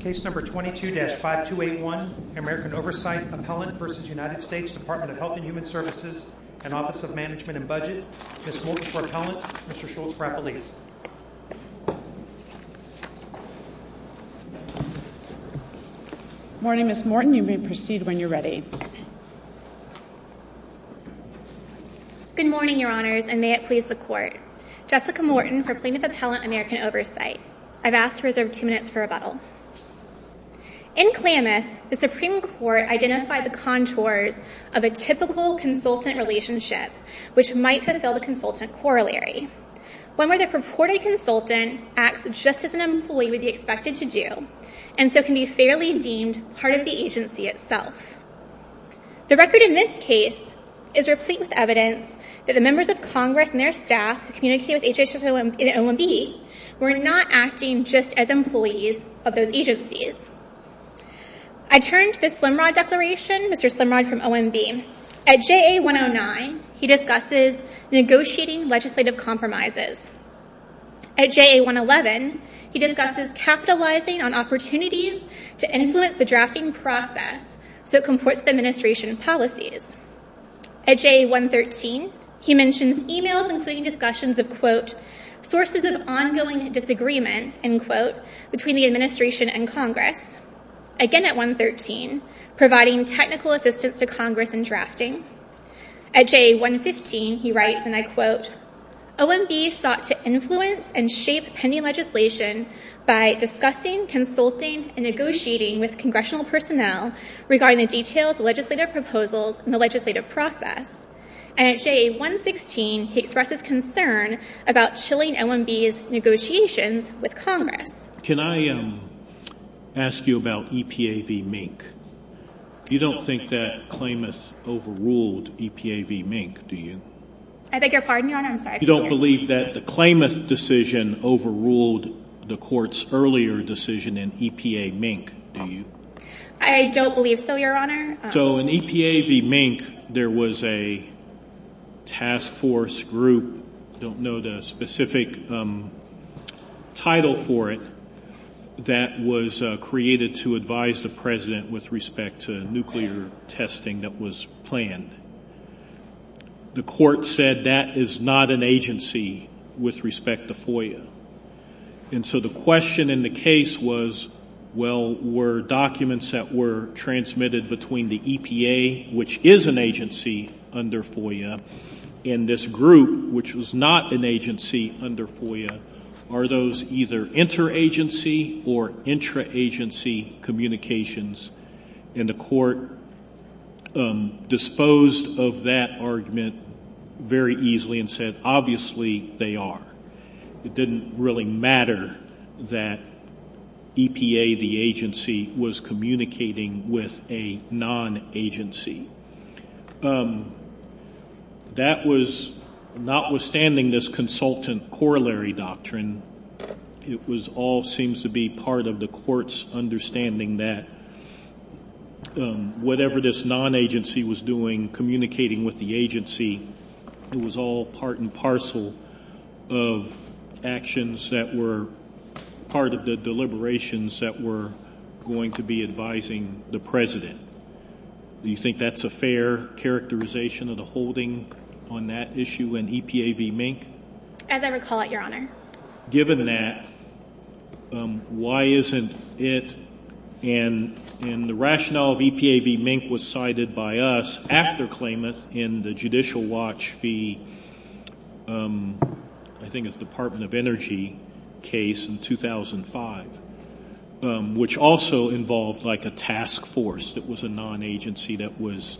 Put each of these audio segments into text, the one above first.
22-5281, American Oversight Appellant v. United States Department of Health and Human Services and Office of Management and Budget, Ms. Morton for Appellant, Mr. Schultz for Appellees. Morning Ms. Morton, you may proceed when you're ready. Good morning Your Honors, and may it please the Court. Jessica Morton for Plaintiff Appellant, American Oversight. I've asked to reserve two minutes for rebuttal. In Klamath, the Supreme Court identified the contours of a typical consultant relationship which might fulfill the consultant corollary, one where the purported consultant acts just as an employee would be expected to do, and so can be fairly deemed part of the agency itself. The record in this case is replete with evidence that the members of Congress and their staff who communicate with HHS and OMB were not acting just as employees of those agencies. I turn to the Slimrod Declaration, Mr. Slimrod from OMB. At JA 109, he discusses negotiating legislative compromises. At JA 111, he discusses capitalizing on opportunities to influence the drafting process so it comports the administration policies. At JA 113, he mentions emails including discussions of, quote, sources of ongoing disagreement, end quote, between the administration and Congress, again at 113, providing technical assistance to Congress in drafting. At JA 115, he writes, and I quote, OMB sought to influence and shape pending legislation by discussing, consulting, and negotiating with congressional personnel regarding the details of legislative proposals and the legislative process. And at JA 116, he expresses concern about chilling OMB's negotiations with Congress. Can I ask you about EPA v. Mink? You don't think that Klamath overruled EPA v. Mink, do you? I beg your pardon, Your Honor? I'm sorry. You don't believe that the Klamath decision overruled the court's earlier decision in EPA v. Mink, do you? I don't believe so, Your Honor. So in EPA v. Mink, there was a task force group, don't know the specific title for it, that was created to advise the president with respect to nuclear testing that was planned. The court said that is not an agency with respect to FOIA. And so the question in the case was, well, were documents that were transmitted between the EPA, which is an agency under FOIA, and this group, which was not an agency under FOIA, are those either interagency or intraagency communications? And the court disposed of that argument very easily and said, obviously, they are. It didn't really matter that EPA, the agency, was communicating with a non-agency. That was, notwithstanding this consultant corollary doctrine, it was all seems to be part of the court's understanding that whatever this non-agency was doing, communicating with the agency, it was all part and parcel of actions that were part of the deliberations that were going to be advising the president. You think that's a fair characterization of the holding on that issue in EPA v. Mink? As I recall it, Your Honor. Given that, why isn't it in the rationale of EPA v. Mink was cited by us after Klamath in the Judicial Watch v. I think it's Department of Energy case in 2005, which also involved like a task force that was a non-agency that was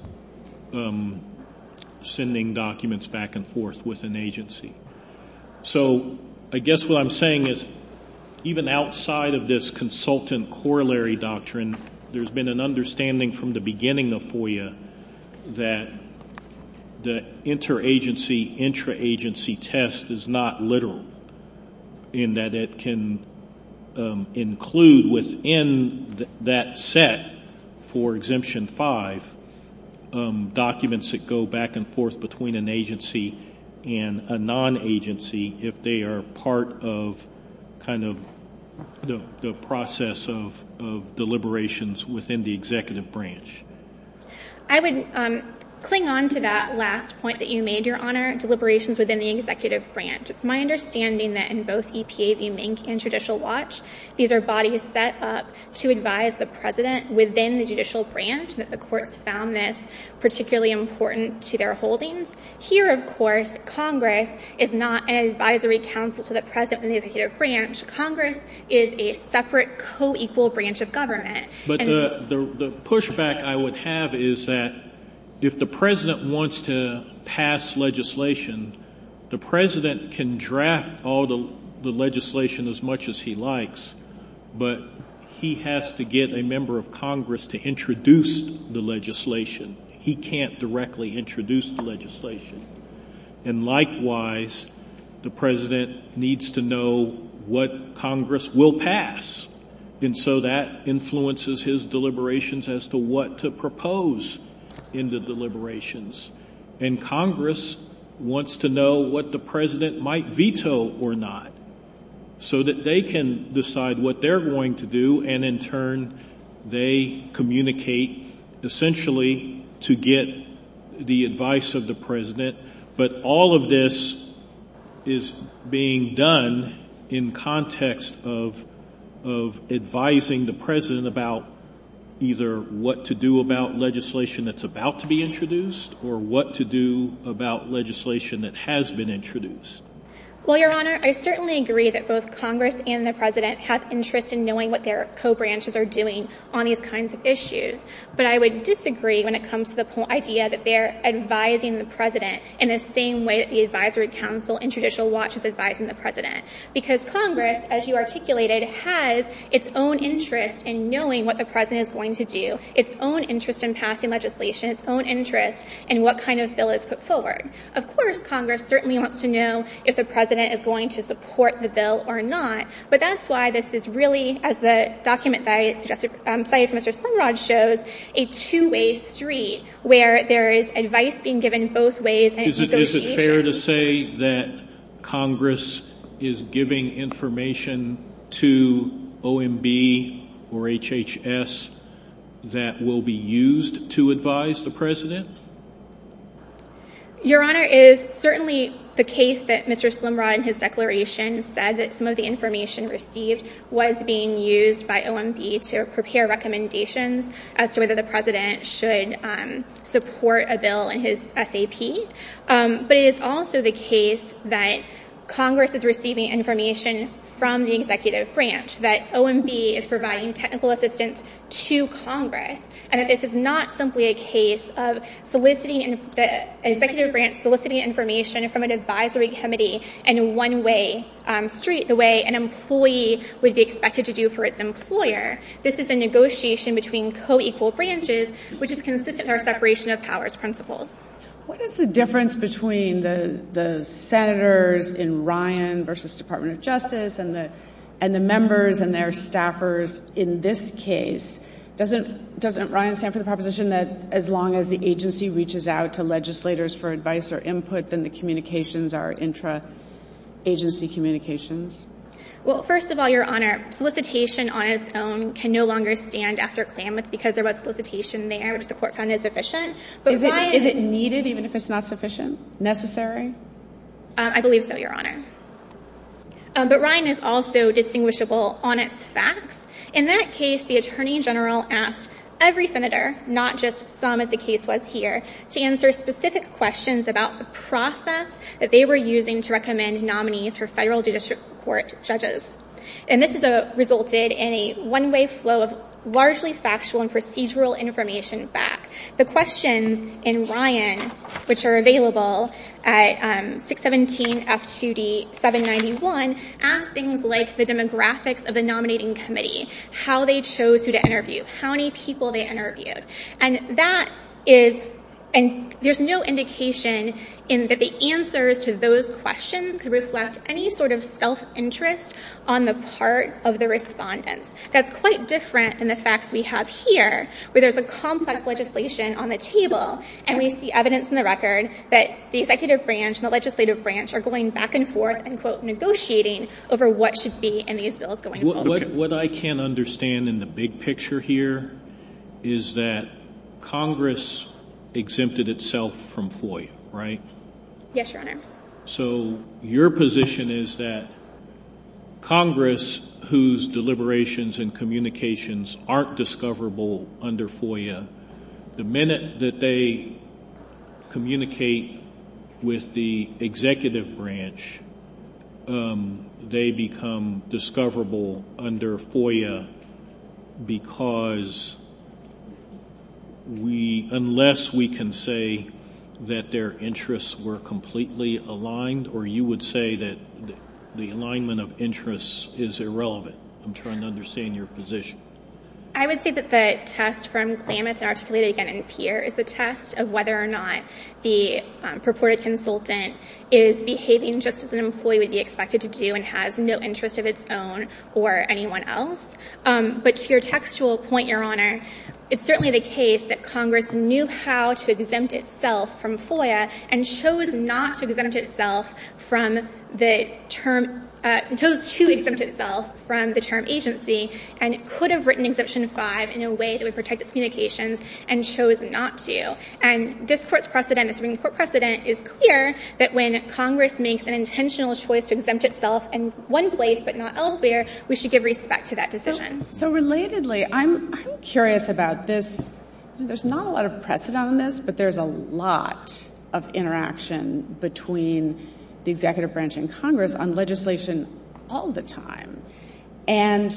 sending documents back and forth with an agency. So, I guess what I'm saying is, even outside of this consultant corollary doctrine, there's been an understanding from the beginning of FOIA that the inter-agency, intra-agency test is not literal in that it can include within that set for Exemption 5 documents that go back and forth between an agency and a non-agency if they are part of the process of deliberations within the executive branch. I would cling on to that last point that you made, Your Honor, deliberations within the executive branch. It's my understanding that in both EPA v. Mink and Judicial Watch, these are bodies set up to advise the president within the judicial branch, that the courts found this to their holdings. Here, of course, Congress is not an advisory council to the president in the executive branch. Congress is a separate, co-equal branch of government. But the pushback I would have is that if the president wants to pass legislation, the president can draft all the legislation as much as he likes, but he has to get a member of Congress to introduce the legislation. He can't directly introduce the legislation. And likewise, the president needs to know what Congress will pass, and so that influences his deliberations as to what to propose in the deliberations. And Congress wants to know what the president might veto or not, so that they can decide what they're going to do, and in turn, they communicate essentially to get the advice of the president. But all of this is being done in context of advising the president about either what to do about legislation that's about to be introduced or what to do about legislation that has been introduced. Well, Your Honor, I certainly agree that both Congress and the president have interest in knowing what their co-branches are doing on these kinds of issues, but I would disagree when it comes to the idea that they're advising the president in the same way that the advisory council in traditional watch is advising the president. Because Congress, as you articulated, has its own interest in knowing what the president is going to do, its own interest in passing legislation, its own interest in what kind of bill is put forward. Of course, Congress certainly wants to know if the president is going to support the bill or not. But that's why this is really, as the document that I suggested, cited from Mr. Slingrod, shows a two-way street where there is advice being given both ways and it's egotistic. Is it fair to say that Congress is giving information to OMB or HHS that will be used to advise the president? Your Honor, it is certainly the case that Mr. Slingrod, in his declaration, said that some of the information received was being used by OMB to prepare recommendations as to whether the president should support a bill in his SAP, but it is also the case that Congress is receiving information from the executive branch, that OMB is providing technical assistance to Congress, and that this is not simply a case of the executive branch soliciting information from an advisory committee in a one-way street, the way an employee would be expected to do for its employer. This is a negotiation between co-equal branches, which is consistent with our separation of powers principles. What is the difference between the senators in Ryan v. Department of Justice and the members and their staffers in this case? Doesn't Ryan stand for the proposition that as long as the agency reaches out to legislators for advice or input, then the communications are intra-agency communications? Well, first of all, Your Honor, solicitation on its own can no longer stand after Klamath because there was solicitation there, which the court found is sufficient. Is it needed even if it's not sufficient? Necessary? I believe so, Your Honor. But Ryan is also distinguishable on its facts. In that case, the attorney general asked every senator, not just some as the case was here, to answer specific questions about the process that they were using to recommend nominees for federal district court judges. And this resulted in a one-way flow of largely factual and procedural information back. The questions in Ryan, which are available at 617-F2D-791, ask things like the demographics of the nominating committee, how they chose who to interview, how many people they interviewed. And there's no indication that the answers to those questions could reflect any sort of self-interest on the part of the respondents. That's quite different than the facts we have here, where there's a complex legislation on the table, and we see evidence in the record that the executive branch and the legislative branch are going back and forth and, quote, negotiating over what should be in these bills going forward. What I can understand in the big picture here is that Congress exempted itself from FOIA, right? Yes, Your Honor. So your position is that Congress, whose deliberations and communications aren't discoverable under FOIA, the minute that they communicate with the executive branch, they become discoverable under FOIA because we, unless we can say that their interests were completely aligned, or you would say that the alignment of interests is irrelevant? I'm trying to understand your position. I would say that the test from Klamath, articulated again in Pierre, is the test of whether or not the purported consultant is behaving just as an employee would be expected to do and has no interest of its own or anyone else. But to your textual point, Your Honor, it's certainly the case that Congress knew how to exempt itself from FOIA and chose not to exempt itself from the term – chose to exempt itself from the term agency and could have written Exemption 5 in a way that would protect its communications and chose not to. And this Court's precedent, the Supreme Court precedent, is clear that when Congress makes an intentional choice to exempt itself in one place but not elsewhere, we should give respect to that decision. So relatedly, I'm curious about this. There's not a lot of precedent on this, but there's a lot of interaction between the executive branch and Congress on legislation all the time. And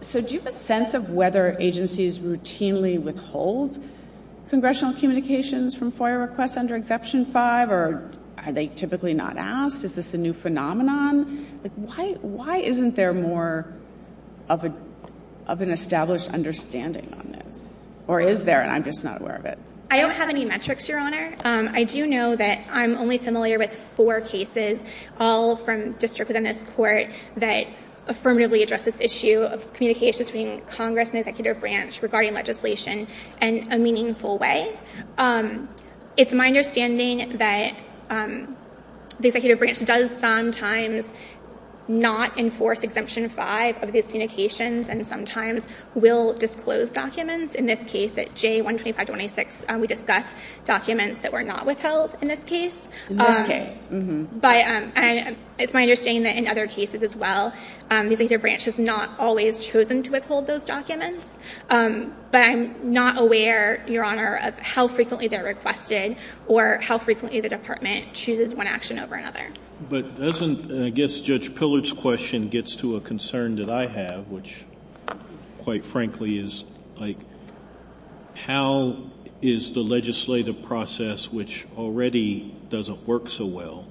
so do you have a sense of whether agencies routinely withhold congressional communications from FOIA requests under Exemption 5, or are they typically not asked? Is this a new phenomenon? Like, why isn't there more of an established understanding on this? Or is there, and I'm just not aware of it? I don't have any metrics, Your Honor. I do know that I'm only familiar with four cases, all from district within this Court, that affirmatively address this issue of communications between Congress and the executive branch regarding legislation in a meaningful way. It's my understanding that the executive branch does sometimes not enforce Exemption 5 of these communications and sometimes will disclose documents. In this case, at J12526, we discussed documents that were not withheld in this case. In this case, mm-hmm. It's my understanding that in other cases as well, the executive branch has not always chosen to withhold those documents, but I'm not aware, Your Honor, of how frequently they're requested or how frequently the Department chooses one action over another. But doesn't, I guess Judge Pillard's question gets to a concern that I have, which quite frankly is, like, how is the legislative process, which already doesn't work so well,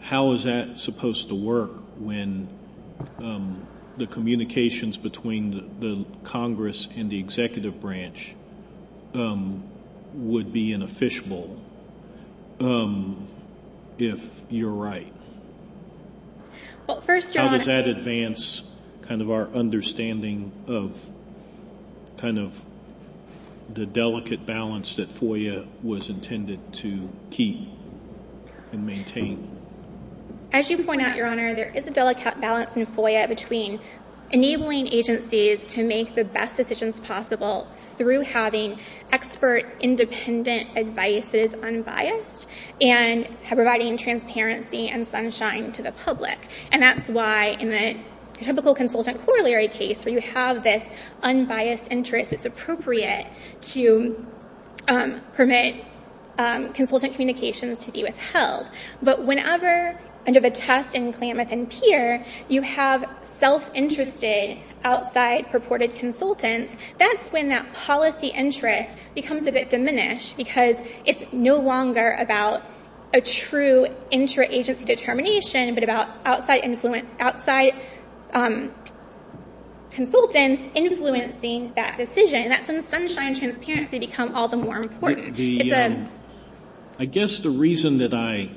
how is that supposed to work when the communications between the Congress and the executive branch would be in a fishbowl, if you're right? Well, first, Your Honor- How does that advance kind of our understanding of kind of the delicate balance that FOIA was intended to keep and maintain? As you point out, Your Honor, there is a delicate balance in FOIA between enabling agencies to make the best decisions possible through having expert, independent advice that is unbiased and providing transparency and sunshine to the public. And that's why in the typical consultant corollary case where you have this unbiased interest, it's appropriate to permit consultant communications to be withheld. But whenever, under the test in Klamath and Peer, you have self-interested outside purported consultants, that's when that policy interest becomes a bit diminished because it's no longer about a true interagency determination, but about outside consultants influencing that decision, and that's when sunshine and transparency become all the more important. I guess the reason that I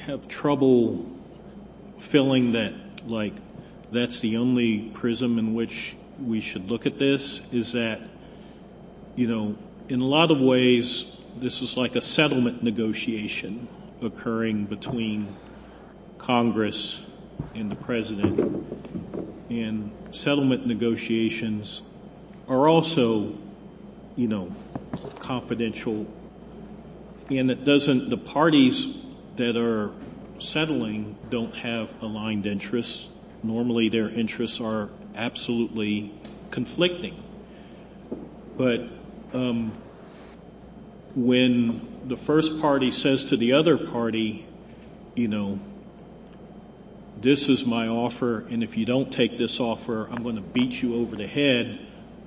have trouble feeling that, like, that's the only prism in which we should look at this is that, you know, in a lot of ways, this is like a settlement negotiation occurring between Congress and the President, and settlement negotiations are also, you know, confidential, and it doesn't, the parties that are settling don't have aligned interests. Normally their interests are absolutely conflicting. But when the first party says to the other party, you know, this is my offer, and if you don't take this offer, I'm going to beat you over the head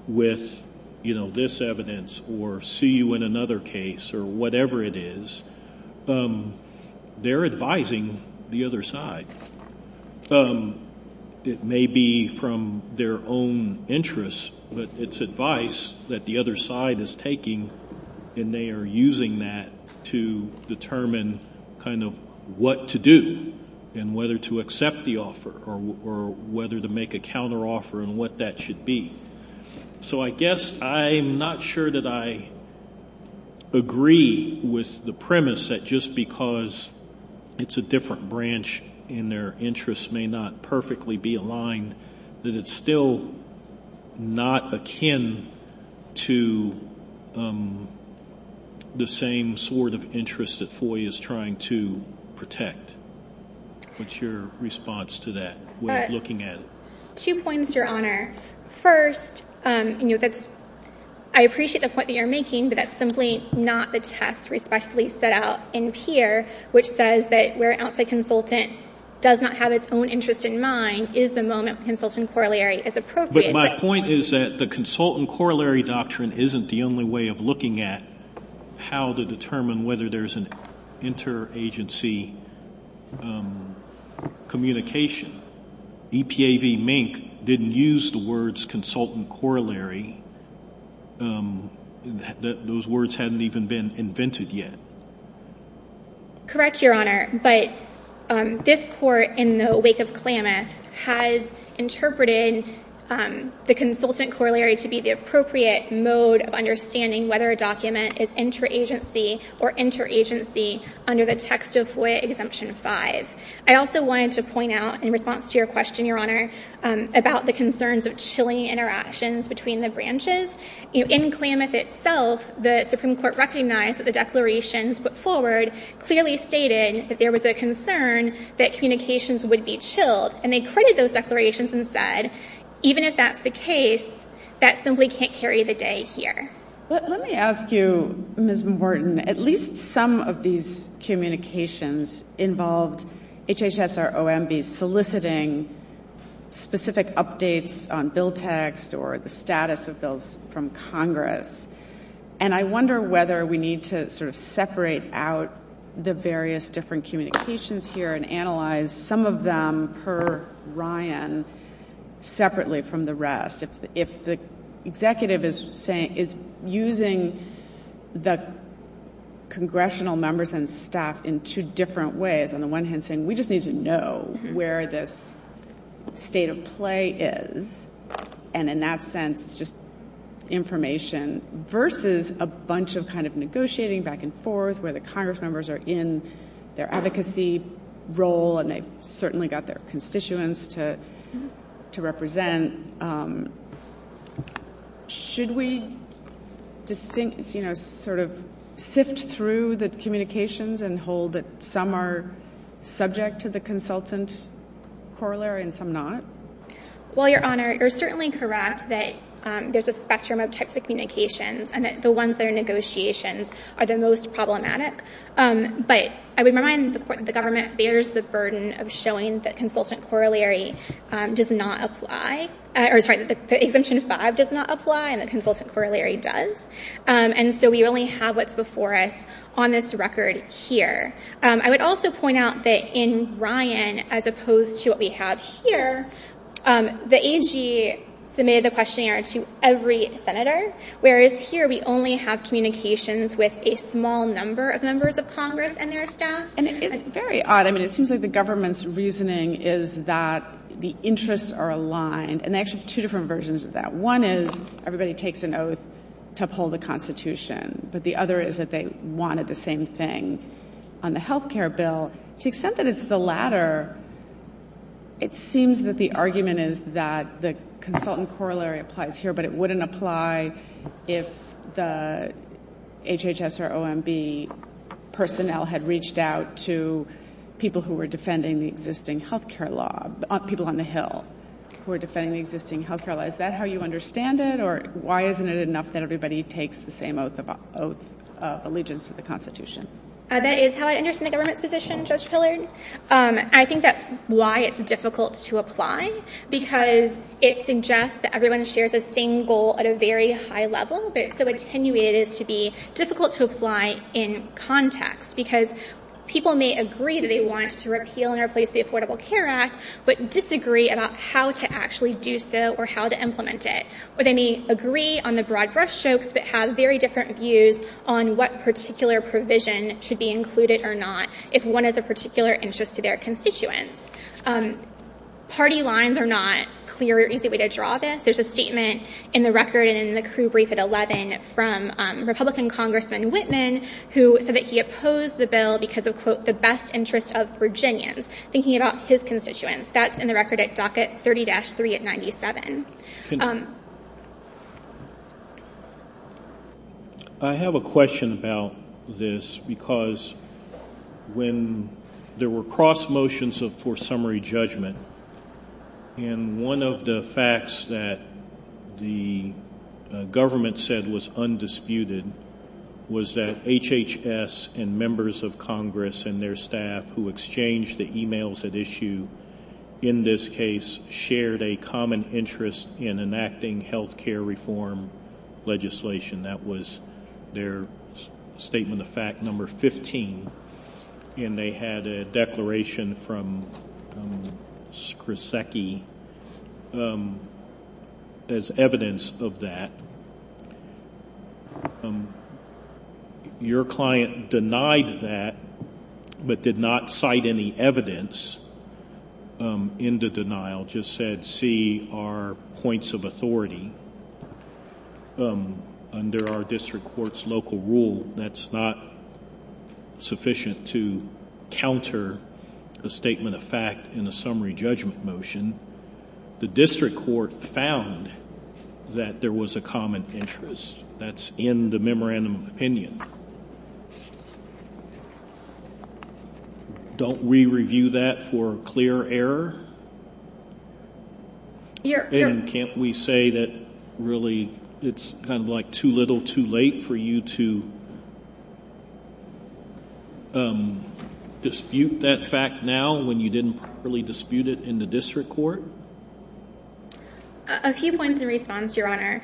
with, you know, this evidence or see you in another case or whatever it is, they're advising the other side. It may be from their own interests, but it's advice that the other side is taking and they are using that to determine kind of what to do and whether to accept the offer or whether to make a counteroffer and what that should be. So I guess I'm not sure that I agree with the premise that just because it's a different branch and their interests may not perfectly be aligned, that it's still not akin to the same sort of interest that FOIA is trying to protect. What's your response to that way of looking at it? Two points, Your Honor. First, you know, that's, I appreciate the point that you're making, but that's simply not the test respectfully set out in PEER, which says that where an outside consultant does not have its own interest in mind is the moment when consultant corollary is appropriate. But my point is that the consultant corollary doctrine isn't the only way of looking at how to determine whether there's an interagency communication. Correct, Your Honor, but this Court in the wake of Klamath has interpreted the consultant corollary to be the appropriate mode of understanding whether a document is interagency or interagency under the text of FOIA Exemption 5. I also wanted to point out in response to your question, Your Honor, about the concerns of chilling interactions between the branches. In Klamath itself, the Supreme Court recognized that the declarations put forward clearly stated that there was a concern that communications would be chilled, and they credited those declarations and said, even if that's the case, that simply can't carry the day here. Let me ask you, Ms. Morton, at least some of these communications involved HHS or OMB soliciting specific updates on bill text or the status of bills from Congress. And I wonder whether we need to sort of separate out the various different communications here and analyze some of them per Ryan separately from the rest. If the executive is using the congressional members and staff in two different ways, on the one hand saying, we just need to know where this state of play is, and in that sense it's just information, versus a bunch of kind of negotiating back and forth where the Congress is. Should we sort of sift through the communications and hold that some are subject to the consultant corollary and some not? Well, Your Honor, you're certainly correct that there's a spectrum of types of communications and that the ones that are negotiations are the most problematic, but I would remind the government bears the burden of showing that the Exemption 5 does not apply and the consultant corollary does. And so we only have what's before us on this record here. I would also point out that in Ryan, as opposed to what we have here, the AG submitted the questionnaire to every senator, whereas here we only have communications with a small number of members of Congress and their staff. And it is very odd. I mean, it seems like the government's reasoning is that the interests are aligned, and they actually have two different versions of that. One is everybody takes an oath to uphold the Constitution, but the other is that they wanted the same thing on the health care bill. To the extent that it's the latter, it seems that the argument is that the consultant corollary applies here, but it wouldn't apply if the HHS or OMB personnel had reached out to people who were defending the existing health care law, people on the Hill who were defending the existing health care law. Is that how you understand it, or why isn't it enough that everybody takes the same oath of allegiance to the Constitution? That is how I understand the government's position, Judge Pillard. I think that's why it's difficult to apply, because it suggests that everyone shares a same goal at a very high level, but it's so attenuated as to be difficult to apply in context, because people may agree that they want to repeal and replace the Affordable Care Act, but disagree about how to actually do so or how to implement it, or they may agree on the broad brushstrokes but have very different views on what particular provision should be included or not if one has a particular interest to their constituents. Party lines are not a clear or easy way to draw this. There's a statement in the record and in the crew brief at 11 from Republican Congressman Whitman who said that he opposed the bill because of, quote, the best interests of Virginians, thinking about his constituents. That's in the record at docket 30-3 at 97. I have a question about this, because when there were cross-motions for summary judgment and one of the facts that the government said was undisputed was that HHS and members of Congress and their staff who exchanged the emails at issue in this case shared a common interest in enacting health care reform legislation. That was their statement of fact number 15, and they had a declaration from Scrisaki as evidence of that. Your client denied that but did not cite any evidence in the denial, just said, see our points of authority under our district court's local rule. That's not sufficient to counter a statement of fact in a summary judgment motion. The district court found that there was a common interest. That's in the memorandum of opinion. Don't we review that for clear error? Can't we say that really it's kind of like too little too late for you to dispute that fact now when you didn't properly dispute it in the district court? A few points in response, Your Honor.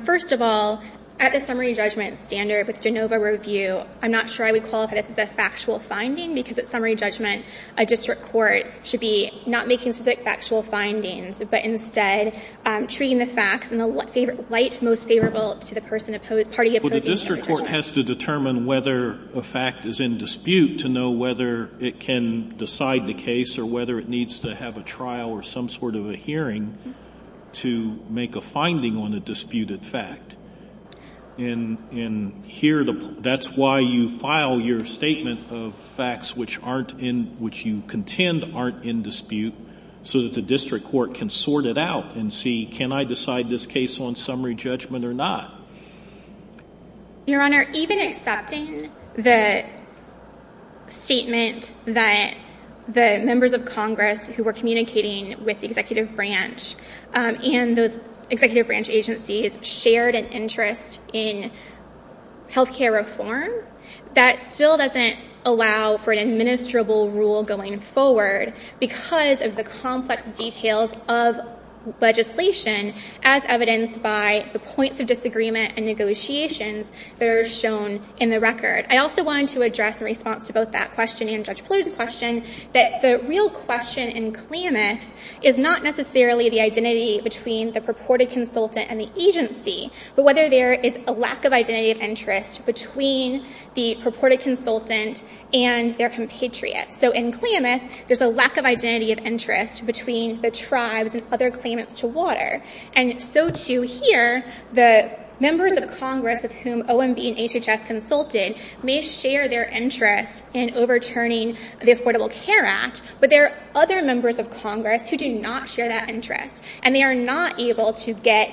First of all, at the summary judgment standard with Genova review, I'm not sure I would qualify this as a factual finding, because at summary judgment, a district court should be not making specific factual findings, but instead treating the facts in the light most favorable to the party opposing the district court. The district court has to determine whether a fact is in dispute to know whether it can decide the case or whether it needs to have a trial or some sort of a hearing to make a finding on a disputed fact. That's why you file your statement of facts which you contend aren't in dispute so that the district court can sort it out and see, can I decide this case on summary judgment or not? Your Honor, even accepting the statement that the members of Congress who were communicating with the executive branch and those executive branch agencies shared an interest in health care reform, that still doesn't allow for an administrable rule going forward because of the complex details of legislation as evidenced by the points of disagreement and negotiations that are shown in the record. I also wanted to address in response to both that question and Judge Plourd's question that the real question in Klamath is not necessarily the identity between the purported consultant and the agency, but whether there is a lack of identity of interest between the purported consultant and their compatriot. So in Klamath, there's a lack of identity of interest between the tribes and other claimants to water. And so too here, the members of Congress with whom OMB and HHS consulted may share their interest in overturning the Affordable Care Act, but there are other members of Congress who do not share that interest. And they are not able to get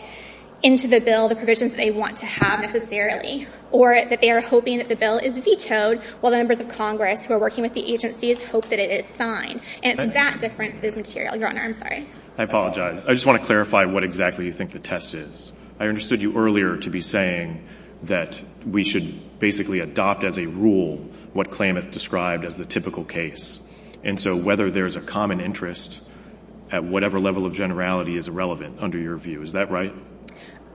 into the bill the provisions that they want to have necessarily or that they are hoping that the bill is vetoed while the members of Congress who are working with the agencies hope that it is signed. And it's that difference that is material. Your Honor, I'm sorry. I apologize. I just want to clarify what exactly you think the test is. I understood you earlier to be saying that we should basically adopt as a rule what Klamath described as the typical case. And so whether there is a common interest at whatever level of generality is irrelevant under your view. Is that right?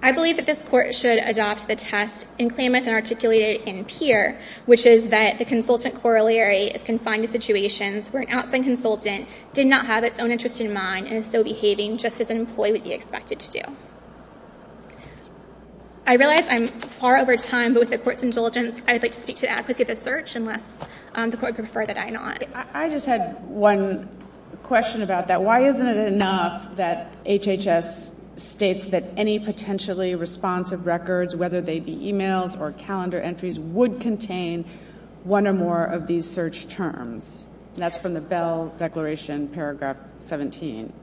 I believe that this Court should adopt the test in Klamath and articulate it in Peer, which is that the consultant corollary is confined to situations where an outside consultant did not have its own interest in mind and is still behaving just as an employee would be expected to do. I realize I'm far over time, but with the Court's indulgence, I would like to speak to the adequacy of the search unless the Court would prefer that I not. I just had one question about that. Why isn't it enough that HHS states that any potentially responsive records, whether they contain one or more of these search terms? That's from the Bell Declaration, Paragraph 17.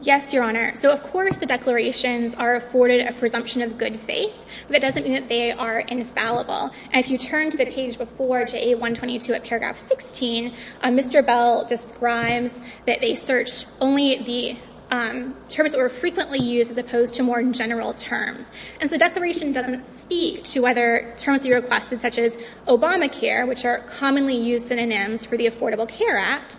Yes, Your Honor. So of course the declarations are afforded a presumption of good faith, but that doesn't mean that they are infallible. And if you turn to the page before, to A122 at Paragraph 16, Mr. Bell describes that they search only the terms that were frequently used as opposed to more general terms. And so the declaration doesn't speak to whether terms he requested, such as Obamacare, which are commonly used synonyms for the Affordable Care Act,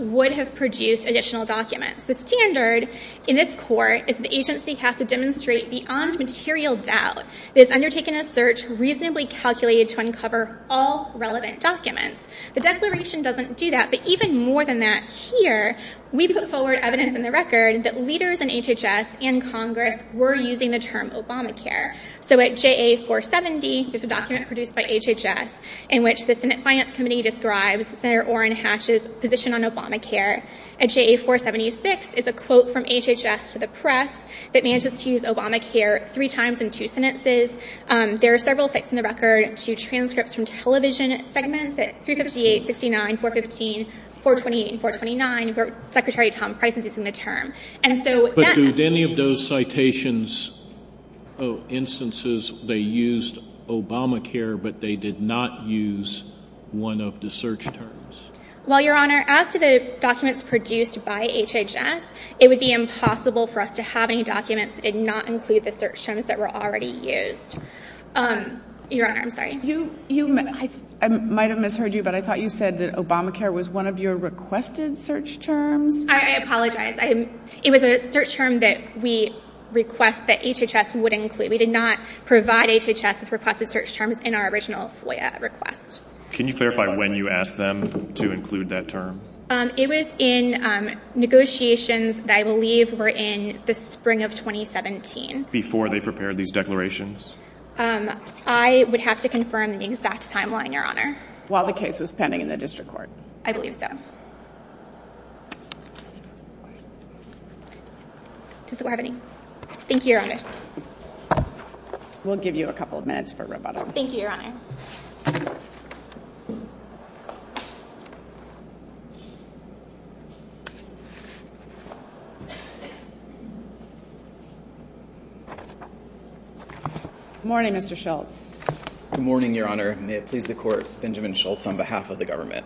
would have produced additional documents. The standard in this Court is that the agency has to demonstrate beyond material doubt it has undertaken a search reasonably calculated to uncover all relevant documents. The declaration doesn't do that, but even more than that, here we put forward evidence in the record that leaders in HHS and Congress were using the term Obamacare. So at JA 470, there's a document produced by HHS in which the Senate Finance Committee describes Senator Orrin Hatch's position on Obamacare. At JA 476 is a quote from HHS to the press that manages to use Obamacare three times in two sentences. There are several sites in the record to transcripts from television segments at 358, 69, 415, 428, and 429 where Secretary Tom Price is using the term. And so that — But did any of those citations of instances, they used Obamacare, but they did not use one of the search terms? Well, Your Honor, as to the documents produced by HHS, it would be impossible for us to have any documents that did not include the search terms that were already used. Your Honor, I'm sorry. You — I might have misheard you, but I thought you said that Obamacare was one of your requested search terms? I apologize. It was a search term that we request that HHS would include. We did not provide HHS with requested search terms in our original FOIA request. Can you clarify when you asked them to include that term? It was in negotiations that I believe were in the spring of 2017. Before they prepared these declarations? I would have to confirm the exact timeline, Your Honor. While the case was pending in the district court? I believe so. Does the court have any — Thank you, Your Honor. We'll give you a couple of minutes for rebuttal. Thank you, Your Honor. Good morning, Mr. Schultz. Good morning, Your Honor. May it please the Court, Benjamin Schultz, on behalf of the government.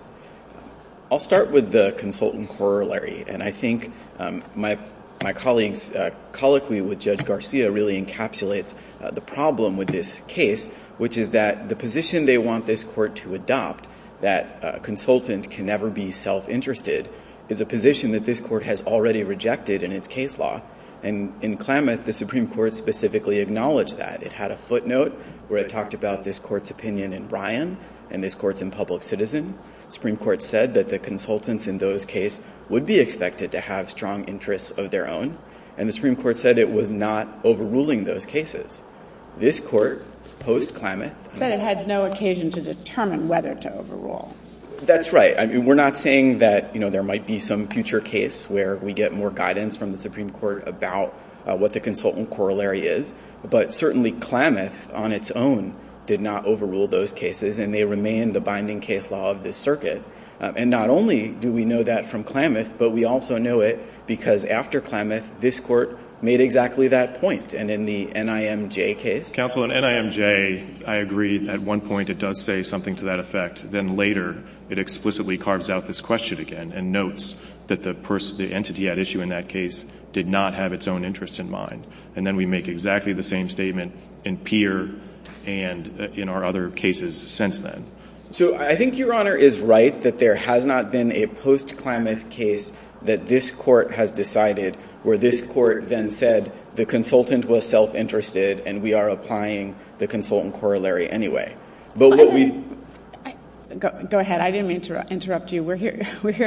I'll start with the consultant corollary. And I think my colleague's colloquy with Judge Garcia really encapsulates the problem with this case, which is that the position they want this Court to adopt, that a consultant can never be self-interested, is a position that this Court has already rejected in its case law. And in Klamath, the Supreme Court specifically acknowledged that. It had a footnote where it talked about this Court's opinion in Ryan and this Court's in Public Citizen. The Supreme Court said that the consultants in those cases would be expected to have strong interests of their own, and the Supreme Court said it was not overruling those cases. This Court, post-Klamath — It said it had no occasion to determine whether to overrule. That's right. I mean, we're not saying that, you know, there might be some future case where we get more guidance from the Supreme Court about what the consultant corollary is. But certainly, Klamath on its own did not overrule those cases, and they remain the binding case law of this circuit. And not only do we know that from Klamath, but we also know it because after Klamath, this Court made exactly that point. And in the NIMJ case — Counsel, in NIMJ, I agree at one point it does say something to that effect. Then later, it explicitly carves out this question again and notes that the entity at issue in that case did not have its own interests in mind. And then we make exactly the same statement in Peer and in our other cases since then. So I think Your Honor is right that there has not been a post-Klamath case that this Court then said the consultant was self-interested and we are applying the consultant corollary anyway. But what we — Go ahead. I didn't mean to interrupt you. We're here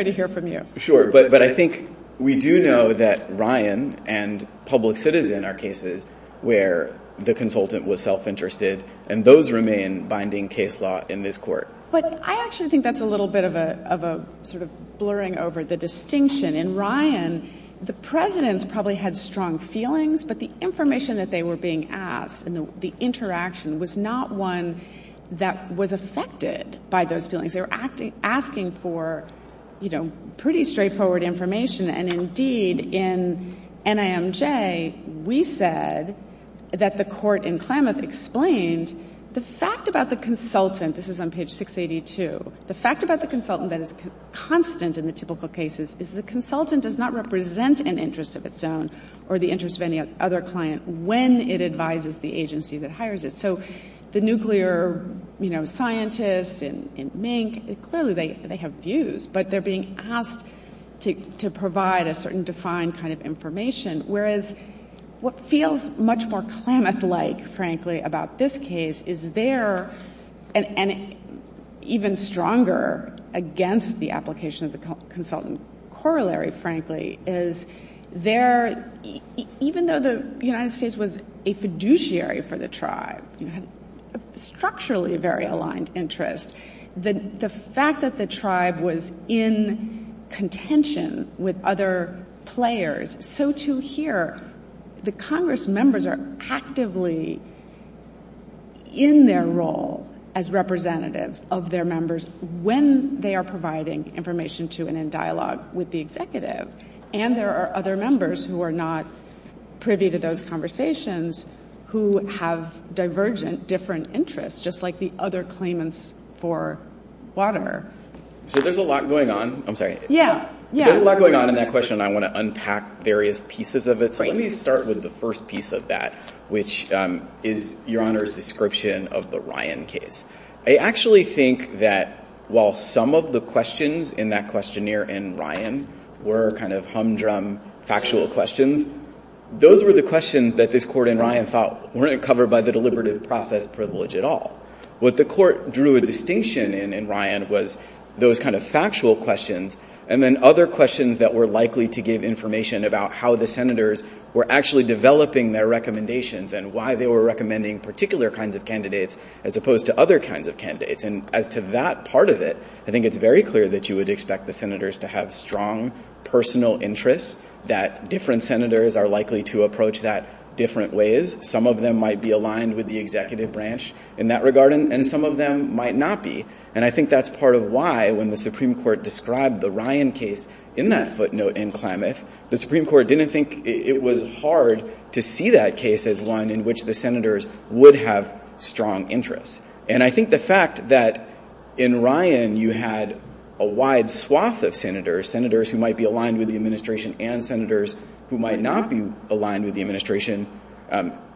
to hear from you. Sure. But I think we do know that Ryan and Public Citizen are cases where the consultant was self-interested, and those remain binding case law in this Court. But I actually think that's a little bit of a sort of blurring over the distinction. In Ryan, the presidents probably had strong feelings, but the information that they were being asked and the interaction was not one that was affected by those feelings. They were asking for, you know, pretty straightforward information. And indeed, in NIMJ, we said that the Court in Klamath explained the fact about the consultant — this is on page 682 — the fact about the consultant that is constant in the typical cases is the consultant does not represent an interest of its own or the interest of any other client when it advises the agency that hires it. So the nuclear, you know, scientists in Mink, clearly they have views, but they're being asked to provide a certain defined kind of information, whereas what feels much more Klamath-like, frankly, about this case is there, and even stronger against the application of the consultant corollary, frankly, is there — even though the United States was a fiduciary for the tribe, you know, had a structurally very aligned interest, the fact that the tribe was in contention with other players, so Page 622 here, the Congress members are actively in their role as representatives of their members when they are providing information to and in dialogue with the executive. And there are other members who are not privy to those conversations who have divergent, different interests, just like the other claimants for water. So there's a lot going on — I'm sorry — Yeah, yeah. There's a lot going on in that question, and I want to unpack various pieces of it. Right. So let me start with the first piece of that, which is Your Honor's description of the Ryan case. I actually think that while some of the questions in that questionnaire in Ryan were kind of humdrum, factual questions, those were the questions that this Court in Ryan thought weren't covered by the deliberative process privilege at all. What the Court drew a distinction in in Ryan was those kind of factual questions, and then other questions that were likely to give information about how the Senators were actually developing their recommendations and why they were recommending particular kinds of candidates as opposed to other kinds of candidates. And as to that part of it, I think it's very clear that you would expect the Senators to have strong personal interests, that different Senators are likely to approach that different ways. Some of them might be aligned with the executive branch in that regard, and some of them might not be. And I think that's part of why, when the Supreme Court described the Ryan case in that footnote in Klamath, the Supreme Court didn't think it was hard to see that case as one in which the Senators would have strong interests. And I think the fact that in Ryan you had a wide swath of Senators, Senators who might be aligned with the Administration and Senators who might not be aligned with the Administration,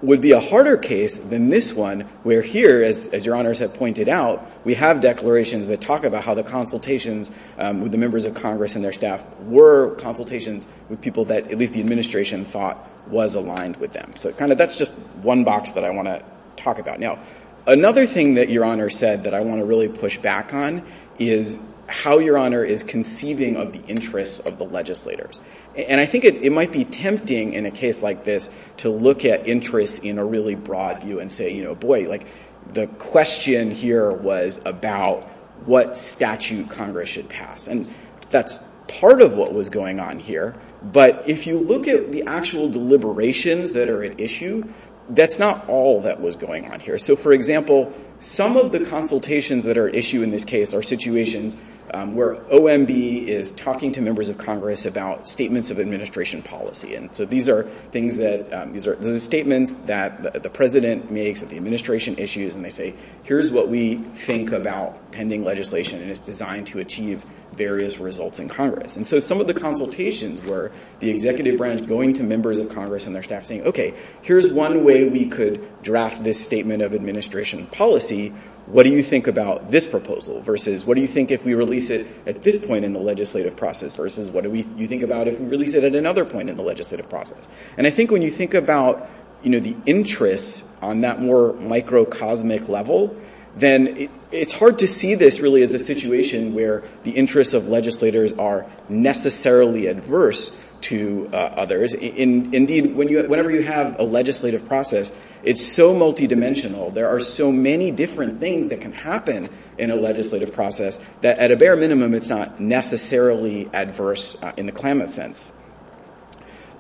would be a harder case than this one, where here, as Your Honors have pointed out, we have declarations that talk about how the consultations with the members of Congress and their staff were consultations with people that at least the Administration thought was aligned with them. So kind of that's just one box that I want to talk about. Now, another thing that Your Honor said that I want to really push back on is how Your Honor is conceiving of the interests of the legislators. And I think it might be tempting in a case like this to look at interests in a really broad view and say, you know, boy, like, the question here was about what statute Congress should pass. And that's part of what was going on here. But if you look at the actual deliberations that are at issue, that's not all that was going on here. So, for example, some of the consultations that are at issue in this case are situations where OMB is talking to members of Congress about statements of Administration policy. And so these are things that, these are statements that the President makes at the Administration issues and they say, here's what we think about pending legislation and it's designed to achieve various results in Congress. And so some of the consultations were the Executive Branch going to members of Congress and their staff saying, okay, here's one way we could draft this statement of Administration policy. What do you think about this proposal versus what do you think if we release it at this point in the legislative process versus what do you think about if we release it at another point in the legislative process? And I think when you think about, you know, the interests on that more microcosmic level, then it's hard to see this really as a situation where the interests of legislators are necessarily adverse to others. Indeed, whenever you have a legislative process, it's so multidimensional. There are so many different things that can happen in a legislative process that at a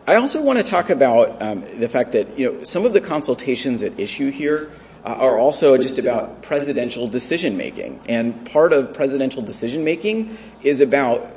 I also want to talk about the fact that, you know, some of the consultations at issue here are also just about presidential decision making. And part of presidential decision making is about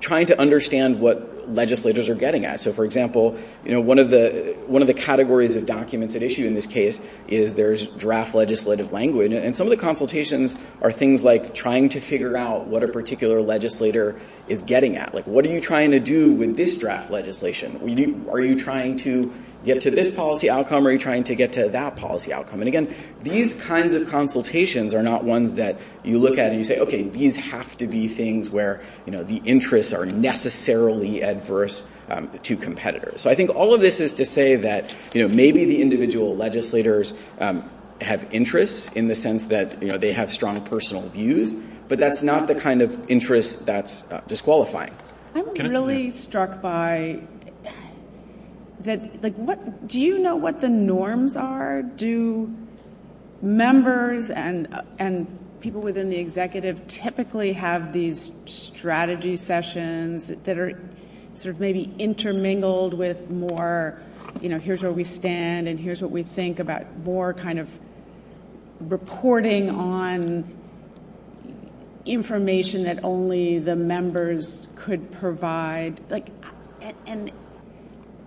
trying to understand what legislators are getting at. So, for example, you know, one of the categories of documents at issue in this case is there's draft legislative language. And some of the consultations are things like trying to figure out what a particular legislator is getting at. Like, what are you trying to do with this draft legislation? Are you trying to get to this policy outcome or are you trying to get to that policy outcome? And again, these kinds of consultations are not ones that you look at and you say, okay, these have to be things where, you know, the interests are necessarily adverse to competitors. So I think all of this is to say that, you know, maybe the individual legislators have interests in the sense that, you know, they have strong personal views. But that's not the kind of interest that's disqualifying. I'm really struck by that, like, what, do you know what the norms are? Do members and people within the executive typically have these strategy sessions that are sort of maybe intermingled with more, you know, here's where we stand and here's what we think about more kind of reporting on information that only the members could provide? Like, and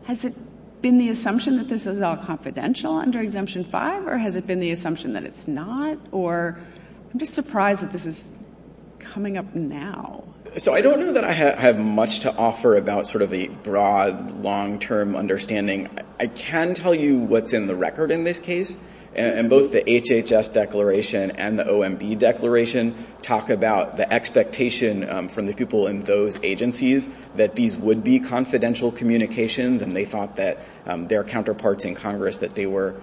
has it been the assumption that this is all confidential under Exemption 5 or has it been the assumption that it's not? Or I'm just surprised that this is coming up now. So I don't know that I have much to offer about sort of a broad, long-term understanding. I can tell you what's in the record in this case. And both the HHS declaration and the OMB declaration talk about the expectation from the people in those agencies that these would be confidential communications. And they thought that their counterparts in Congress that they were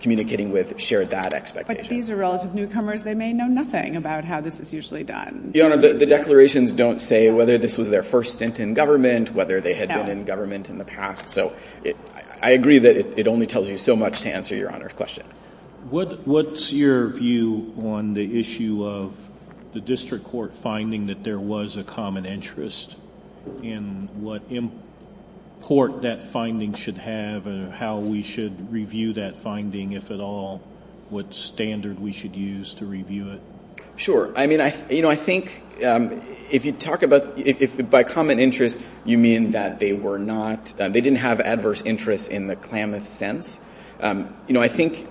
communicating with shared that expectation. But these are relative newcomers. They may know nothing about how this is usually done. Your Honor, the declarations don't say whether this was their first stint in government, whether they had been in government in the past. So I agree that it only tells you so much to answer Your Honor's question. What's your view on the issue of the district court finding that there was a common interest in what import that finding should have and how we should review that finding, if at all, what standard we should use to review it? Sure. I mean, I think if you talk about, by common interest, you mean that they were not, they didn't have adverse interests in the Klamath sense. You know, I think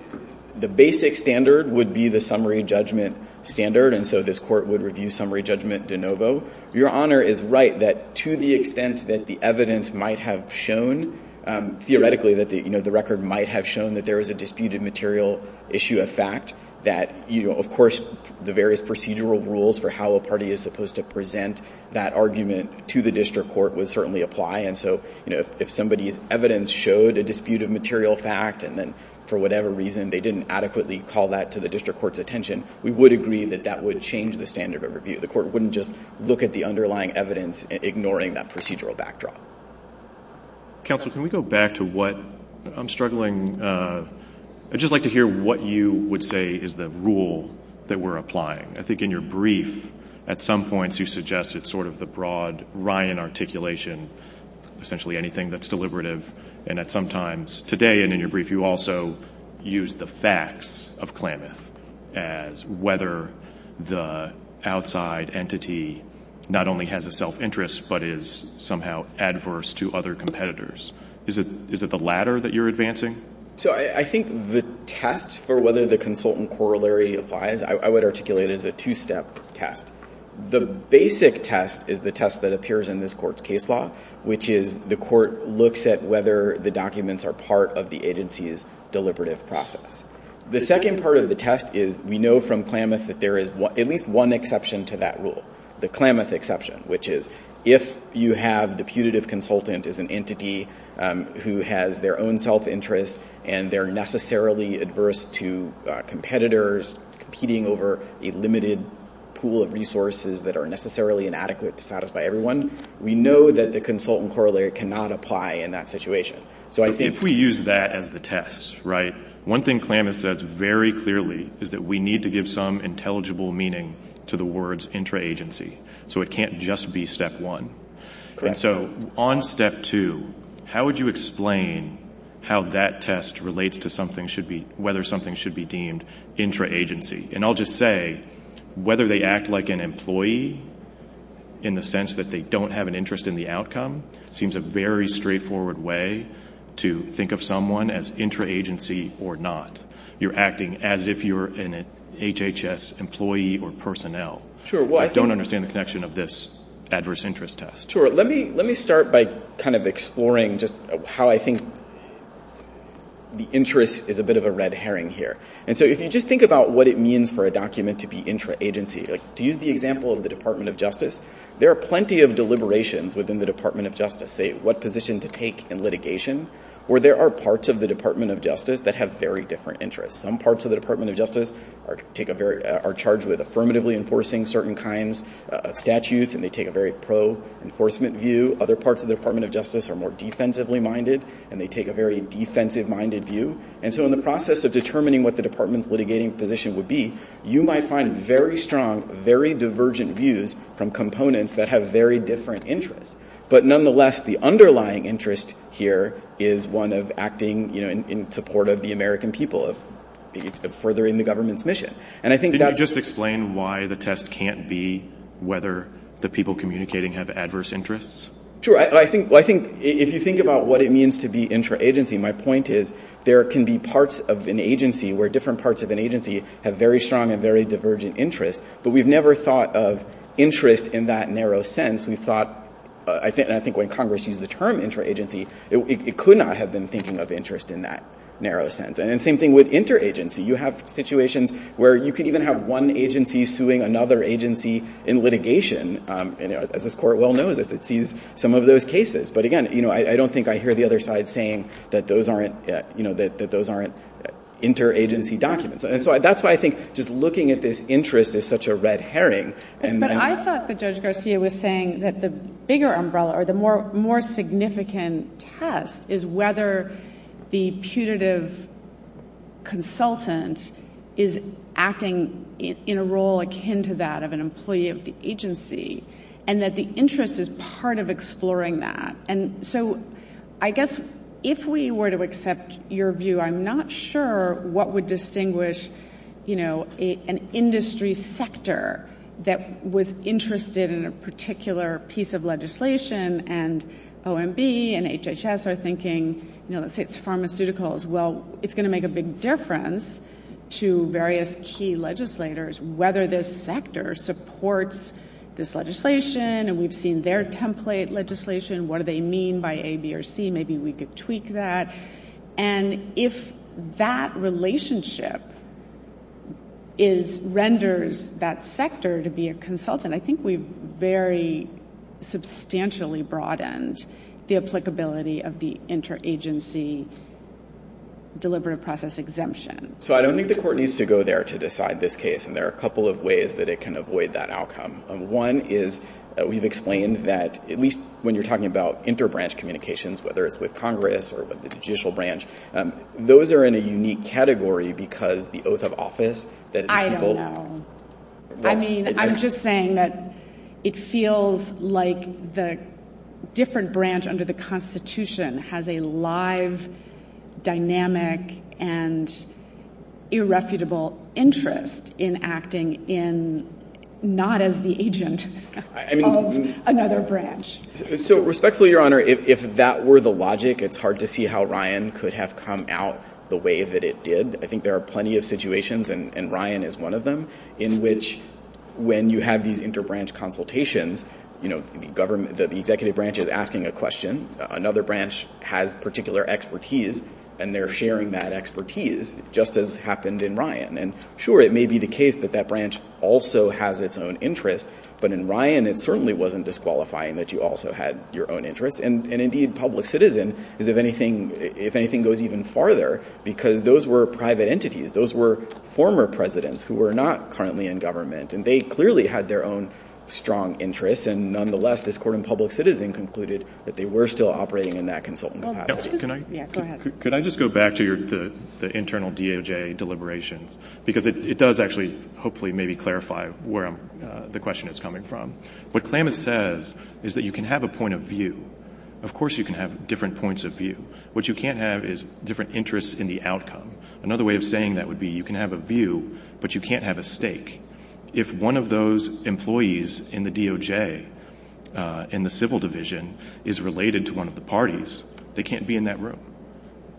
the basic standard would be the summary judgment standard. And so this court would review summary judgment de novo. Your Honor is right that to the extent that the evidence might have shown, theoretically that the record might have shown that there was a disputed material issue of fact, that, of course, the various procedural rules for how a party is supposed to present that argument to the district court would certainly apply. And so, you know, if somebody's evidence showed a disputed material fact and then for whatever reason they didn't adequately call that to the district court's attention, we would agree that that would change the standard of review. The court wouldn't just look at the underlying evidence, ignoring that procedural backdrop. Counsel, can we go back to what, I'm struggling, I'd just like to hear what you would say is the rule that we're applying. I think in your brief at some points you suggested sort of the broad Ryan articulation, essentially anything that's deliberative, and that sometimes today and in your brief you also use the facts of Klamath as whether the outside entity not only has a self-interest but is somehow adverse to other competitors. Is it the latter that you're advancing? So I think the test for whether the consultant corollary applies, I would articulate as a two-step test. The basic test is the test that appears in this Court's case law, which is the Court looks at whether the documents are part of the agency's deliberative process. The second part of the test is we know from Klamath that there is at least one exception to that rule, the Klamath exception, which is if you have the putative consultant as an entity who has their own self-interest and they're necessarily adverse to competitors competing over a limited pool of resources that are necessarily inadequate to satisfy everyone, we know that the consultant corollary cannot apply in that situation. So I think... If we use that as the test, right? One thing Klamath says very clearly is that we need to give some intelligible meaning to the words intra-agency. So it can't just be step one. Correct. And so on step two, how would you explain how that test relates to whether something should be deemed intra-agency? And I'll just say, whether they act like an employee in the sense that they don't have an interest in the outcome seems a very straightforward way to think of someone as intra-agency or not. You're acting as if you're an HHS employee or personnel who don't understand the connection of this adverse interest test. Sure. Let me start by kind of exploring just how I think the interest is a bit of a red herring here. And so if you just think about what it means for a document to be intra-agency, to use the example of the Department of Justice, there are plenty of deliberations within the Department of Justice, say what position to take in litigation, where there are parts of the Department of Justice that have very different interests. Some parts of the Department of Justice are charged with affirmatively enforcing certain kinds of statutes, and they take a very pro-enforcement view. Other parts of the Department of Justice are more defensively minded, and they take a very defensive-minded view. And so in the process of determining what the Department's litigating position would be, you might find very strong, very divergent views from components that have very different interests. But nonetheless, the underlying interest here is one of acting in support of the American people, of furthering the government's mission. And I think that's... Can you just explain why the test can't be whether the people communicating have adverse interests? Sure. I think if you think about what it means to be intra-agency, my point is there can be parts of an agency where different parts of an agency have very strong and very divergent interests, but we've never thought of interest in that narrow sense. We thought, and I think when Congress used the term intra-agency, it could not have been thinking of interest in that narrow sense. And same thing with inter-agency. You have situations where you could even have one agency suing another agency in litigation. As this Court well knows, it sees some of those cases. But again, I don't think I hear the other side saying that those aren't inter-agency documents. And so that's why I think just looking at this interest is such a red herring. But I thought that Judge Garcia was saying that the bigger umbrella, or the more significant test, is whether the putative consultant is acting in a role akin to that of an employee of the agency, and that the interest is part of exploring that. And so I guess if we were to accept your view, I'm not sure what would distinguish an industry sector that was interested in a particular piece of legislation, and OMB and HHS are thinking, you know, let's say it's pharmaceuticals, well, it's going to make a big difference to various key legislators whether this sector supports this legislation, and we've seen their template legislation, what do they mean by A, B, or C, maybe we could tweak that. And if that relationship renders that sector to be a consultant, I think we've very substantially broadened the applicability of the inter-agency deliberative process exemption. So I don't think the Court needs to go there to decide this case, and there are a couple of ways that it can avoid that outcome. One is, we've explained that at least when you're talking about inter-branch communications, whether it's with Congress or with the judicial branch, those are in a unique category because the oath of office that these people... I don't know. I mean, I'm just saying that it feels like the different branch under the Constitution has a live, dynamic, and irrefutable interest in acting in not as the agent of another branch. So respectfully, Your Honor, if that were the logic, it's hard to see how Ryan could have come out the way that it did. I think there are plenty of situations, and Ryan is one of them, in which when you have these inter-branch consultations, the executive branch is asking a question. Another branch has particular expertise, and they're sharing that expertise, just as happened in Ryan. And sure, it may be the case that that branch also has its own interest, but in Ryan it certainly wasn't disqualifying that you also had your own interests. And indeed, public citizen, if anything, goes even farther because those were private entities. Those were former presidents who were not currently in government, and they clearly had their own strong interests. And nonetheless, this court in public citizen concluded that they were still operating in that consultant path. Well, let's just... Yeah, go ahead. Could I just go back to the internal DOJ deliberations? Because it does actually, hopefully, maybe clarify where the question is coming from. What Klamath says is that you can have a point of view. Of course, you can have different points of view. What you can't have is different interests in the outcome. Another way of saying that would be you can have a view, but you can't have a stake. If one of those employees in the DOJ, in the civil division, is related to one of the parties, they can't be in that room.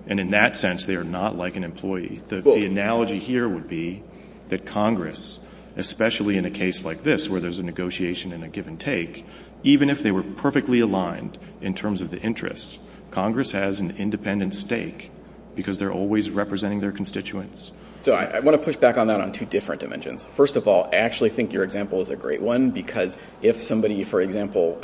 And in that sense, they are not like an employee. The analogy here would be that Congress, especially in a case like this, where there's a negotiation and a give and take, even if they were perfectly aligned in terms of the interests, Congress has an independent stake because they're always representing their constituents. So I want to push back on that on two different dimensions. First of all, I actually think your example is a great one because if somebody, for example,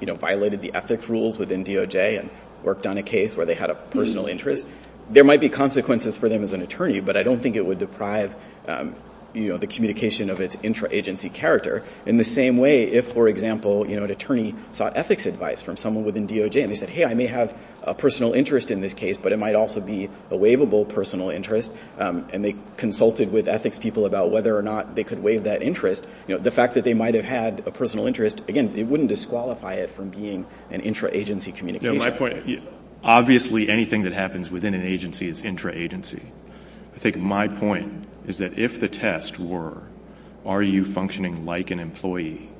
violated the ethics rules within DOJ and worked on a case where they had a personal interest, there might be consequences for them as an attorney. But I don't think it would deprive the communication of its intra-agency character. In the same way, if, for example, an attorney sought ethics advice from someone within DOJ and they said, hey, I may have a personal interest in this case, but it might also be a waivable personal interest, and they consulted with ethics people about whether or not they could waive that interest, the fact that they might have had a personal interest, again, it wouldn't disqualify it from being an intra-agency communication. My point, obviously anything that happens within an agency is intra-agency. I think my point is that if the test were, are you functioning like an employee,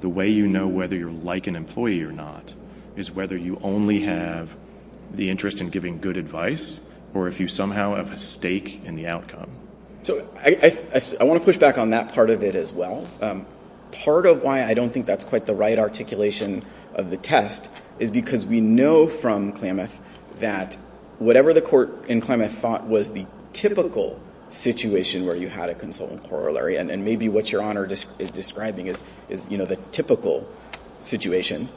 the way you know whether you're like an employee or not is whether you only have the interest in giving good advice or if you somehow have a stake in the outcome. So I want to push back on that part of it as well. Part of why I don't think that's quite the right articulation of the test is because we know from Klamath that whatever the court in Klamath thought was the typical situation where you had a consultant corollary, and maybe what Your Honor is describing is, you know, the typical situation,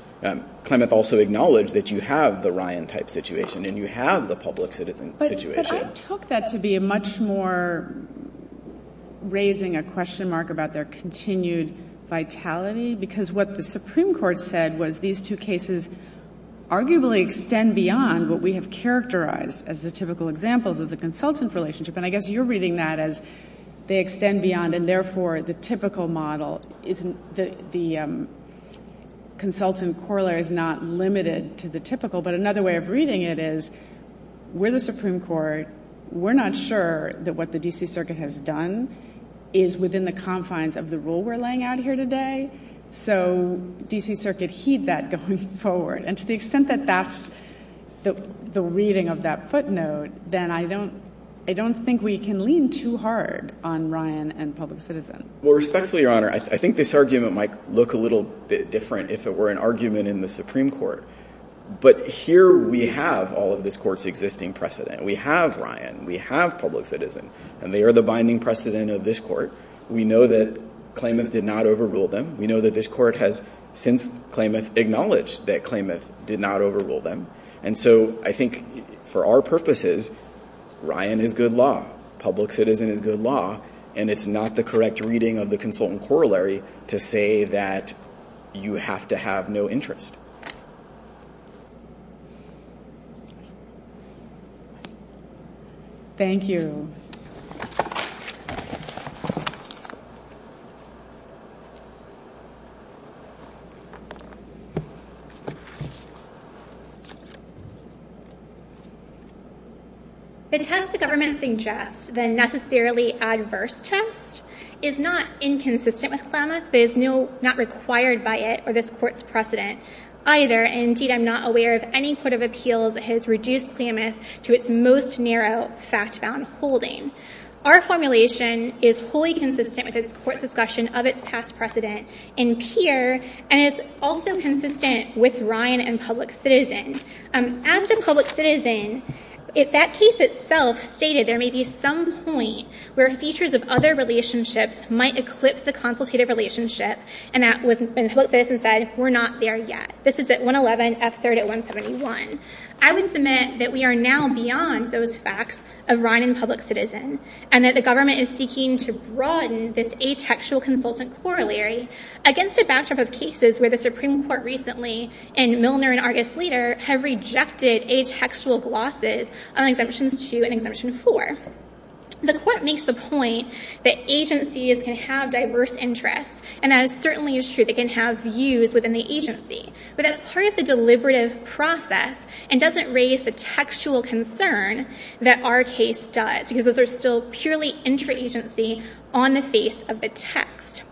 Klamath also acknowledged that you have the Ryan-type situation and you have the public citizen situation. But I took that to be a much more raising a question mark about their continued vitality because what the Supreme Court said was these two cases arguably extend beyond what we have characterized as the typical examples of the consultant relationship, and I guess you're reading that as they extend beyond and therefore the typical model, the consultant corollary is not limited to the typical, but another way of reading it is we're the Supreme Court, we're not sure that what the D.C. Circuit has done is within the confines of the rule we're laying out here today, so D.C. Circuit heed that going forward. And to the extent that that's the reading of that footnote, then I don't think we can lean too hard on Ryan and public citizen. Well, respectfully, Your Honor, I think this argument might look a little bit different if it were an argument in the Supreme Court, but here we have all of this court's existing precedent. We have Ryan, we have public citizen, and they are the binding precedent of this court. We know that Klamath did not overrule them. We know that this court has since Klamath acknowledged that Klamath did not overrule them. And so I think for our purposes, Ryan is good law, public citizen is good law, and it's not the correct reading of the consultant corollary to say that you have to have no interest. Thank you. The test the government suggests, the necessarily adverse test, is not inconsistent with Klamath, but is not required by it or this court's precedent either. Indeed, I'm not aware of any court of appeals that has reduced Klamath to its most narrow fact-bound holding. Our formulation is wholly consistent with this court's discussion of its past precedent in Peer, and it's also consistent with Ryan and public citizen. As to public citizen, that case itself stated there may be some point where features of other relationships might eclipse the consultative relationship, and that was when public citizen said, we're not there yet. This is at 111, F3rd at 171. I would submit that we are now beyond those facts of Ryan and public citizen, and that the government is seeking to broaden this atextual consultant corollary against a backdrop of cases where the Supreme Court recently in Milner and Argus Leader have rejected atextual glosses on Exemptions 2 and Exemption 4. The court makes the point that agencies can have diverse interests, and that certainly is true. They can have views within the agency, but that's part of the deliberative process and doesn't raise the textual concern that our case does, because those are still purely intra-agency on the face of the text.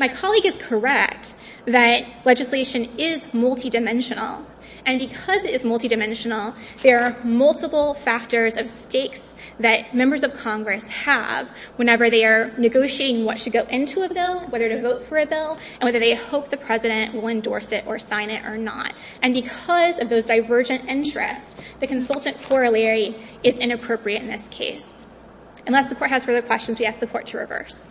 My colleague is correct that legislation is multidimensional, and because it is multidimensional, there are multiple factors of stakes that members of Congress have whenever they are negotiating what should go into a bill, whether to vote for a bill, and whether they hope the president will endorse it or sign it or not. And because of those divergent interests, the consultant corollary is inappropriate in this case. Unless the court has further questions, we ask the court to reverse.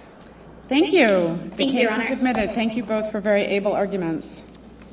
Thank you. The case is admitted. Thank you both for very able arguments.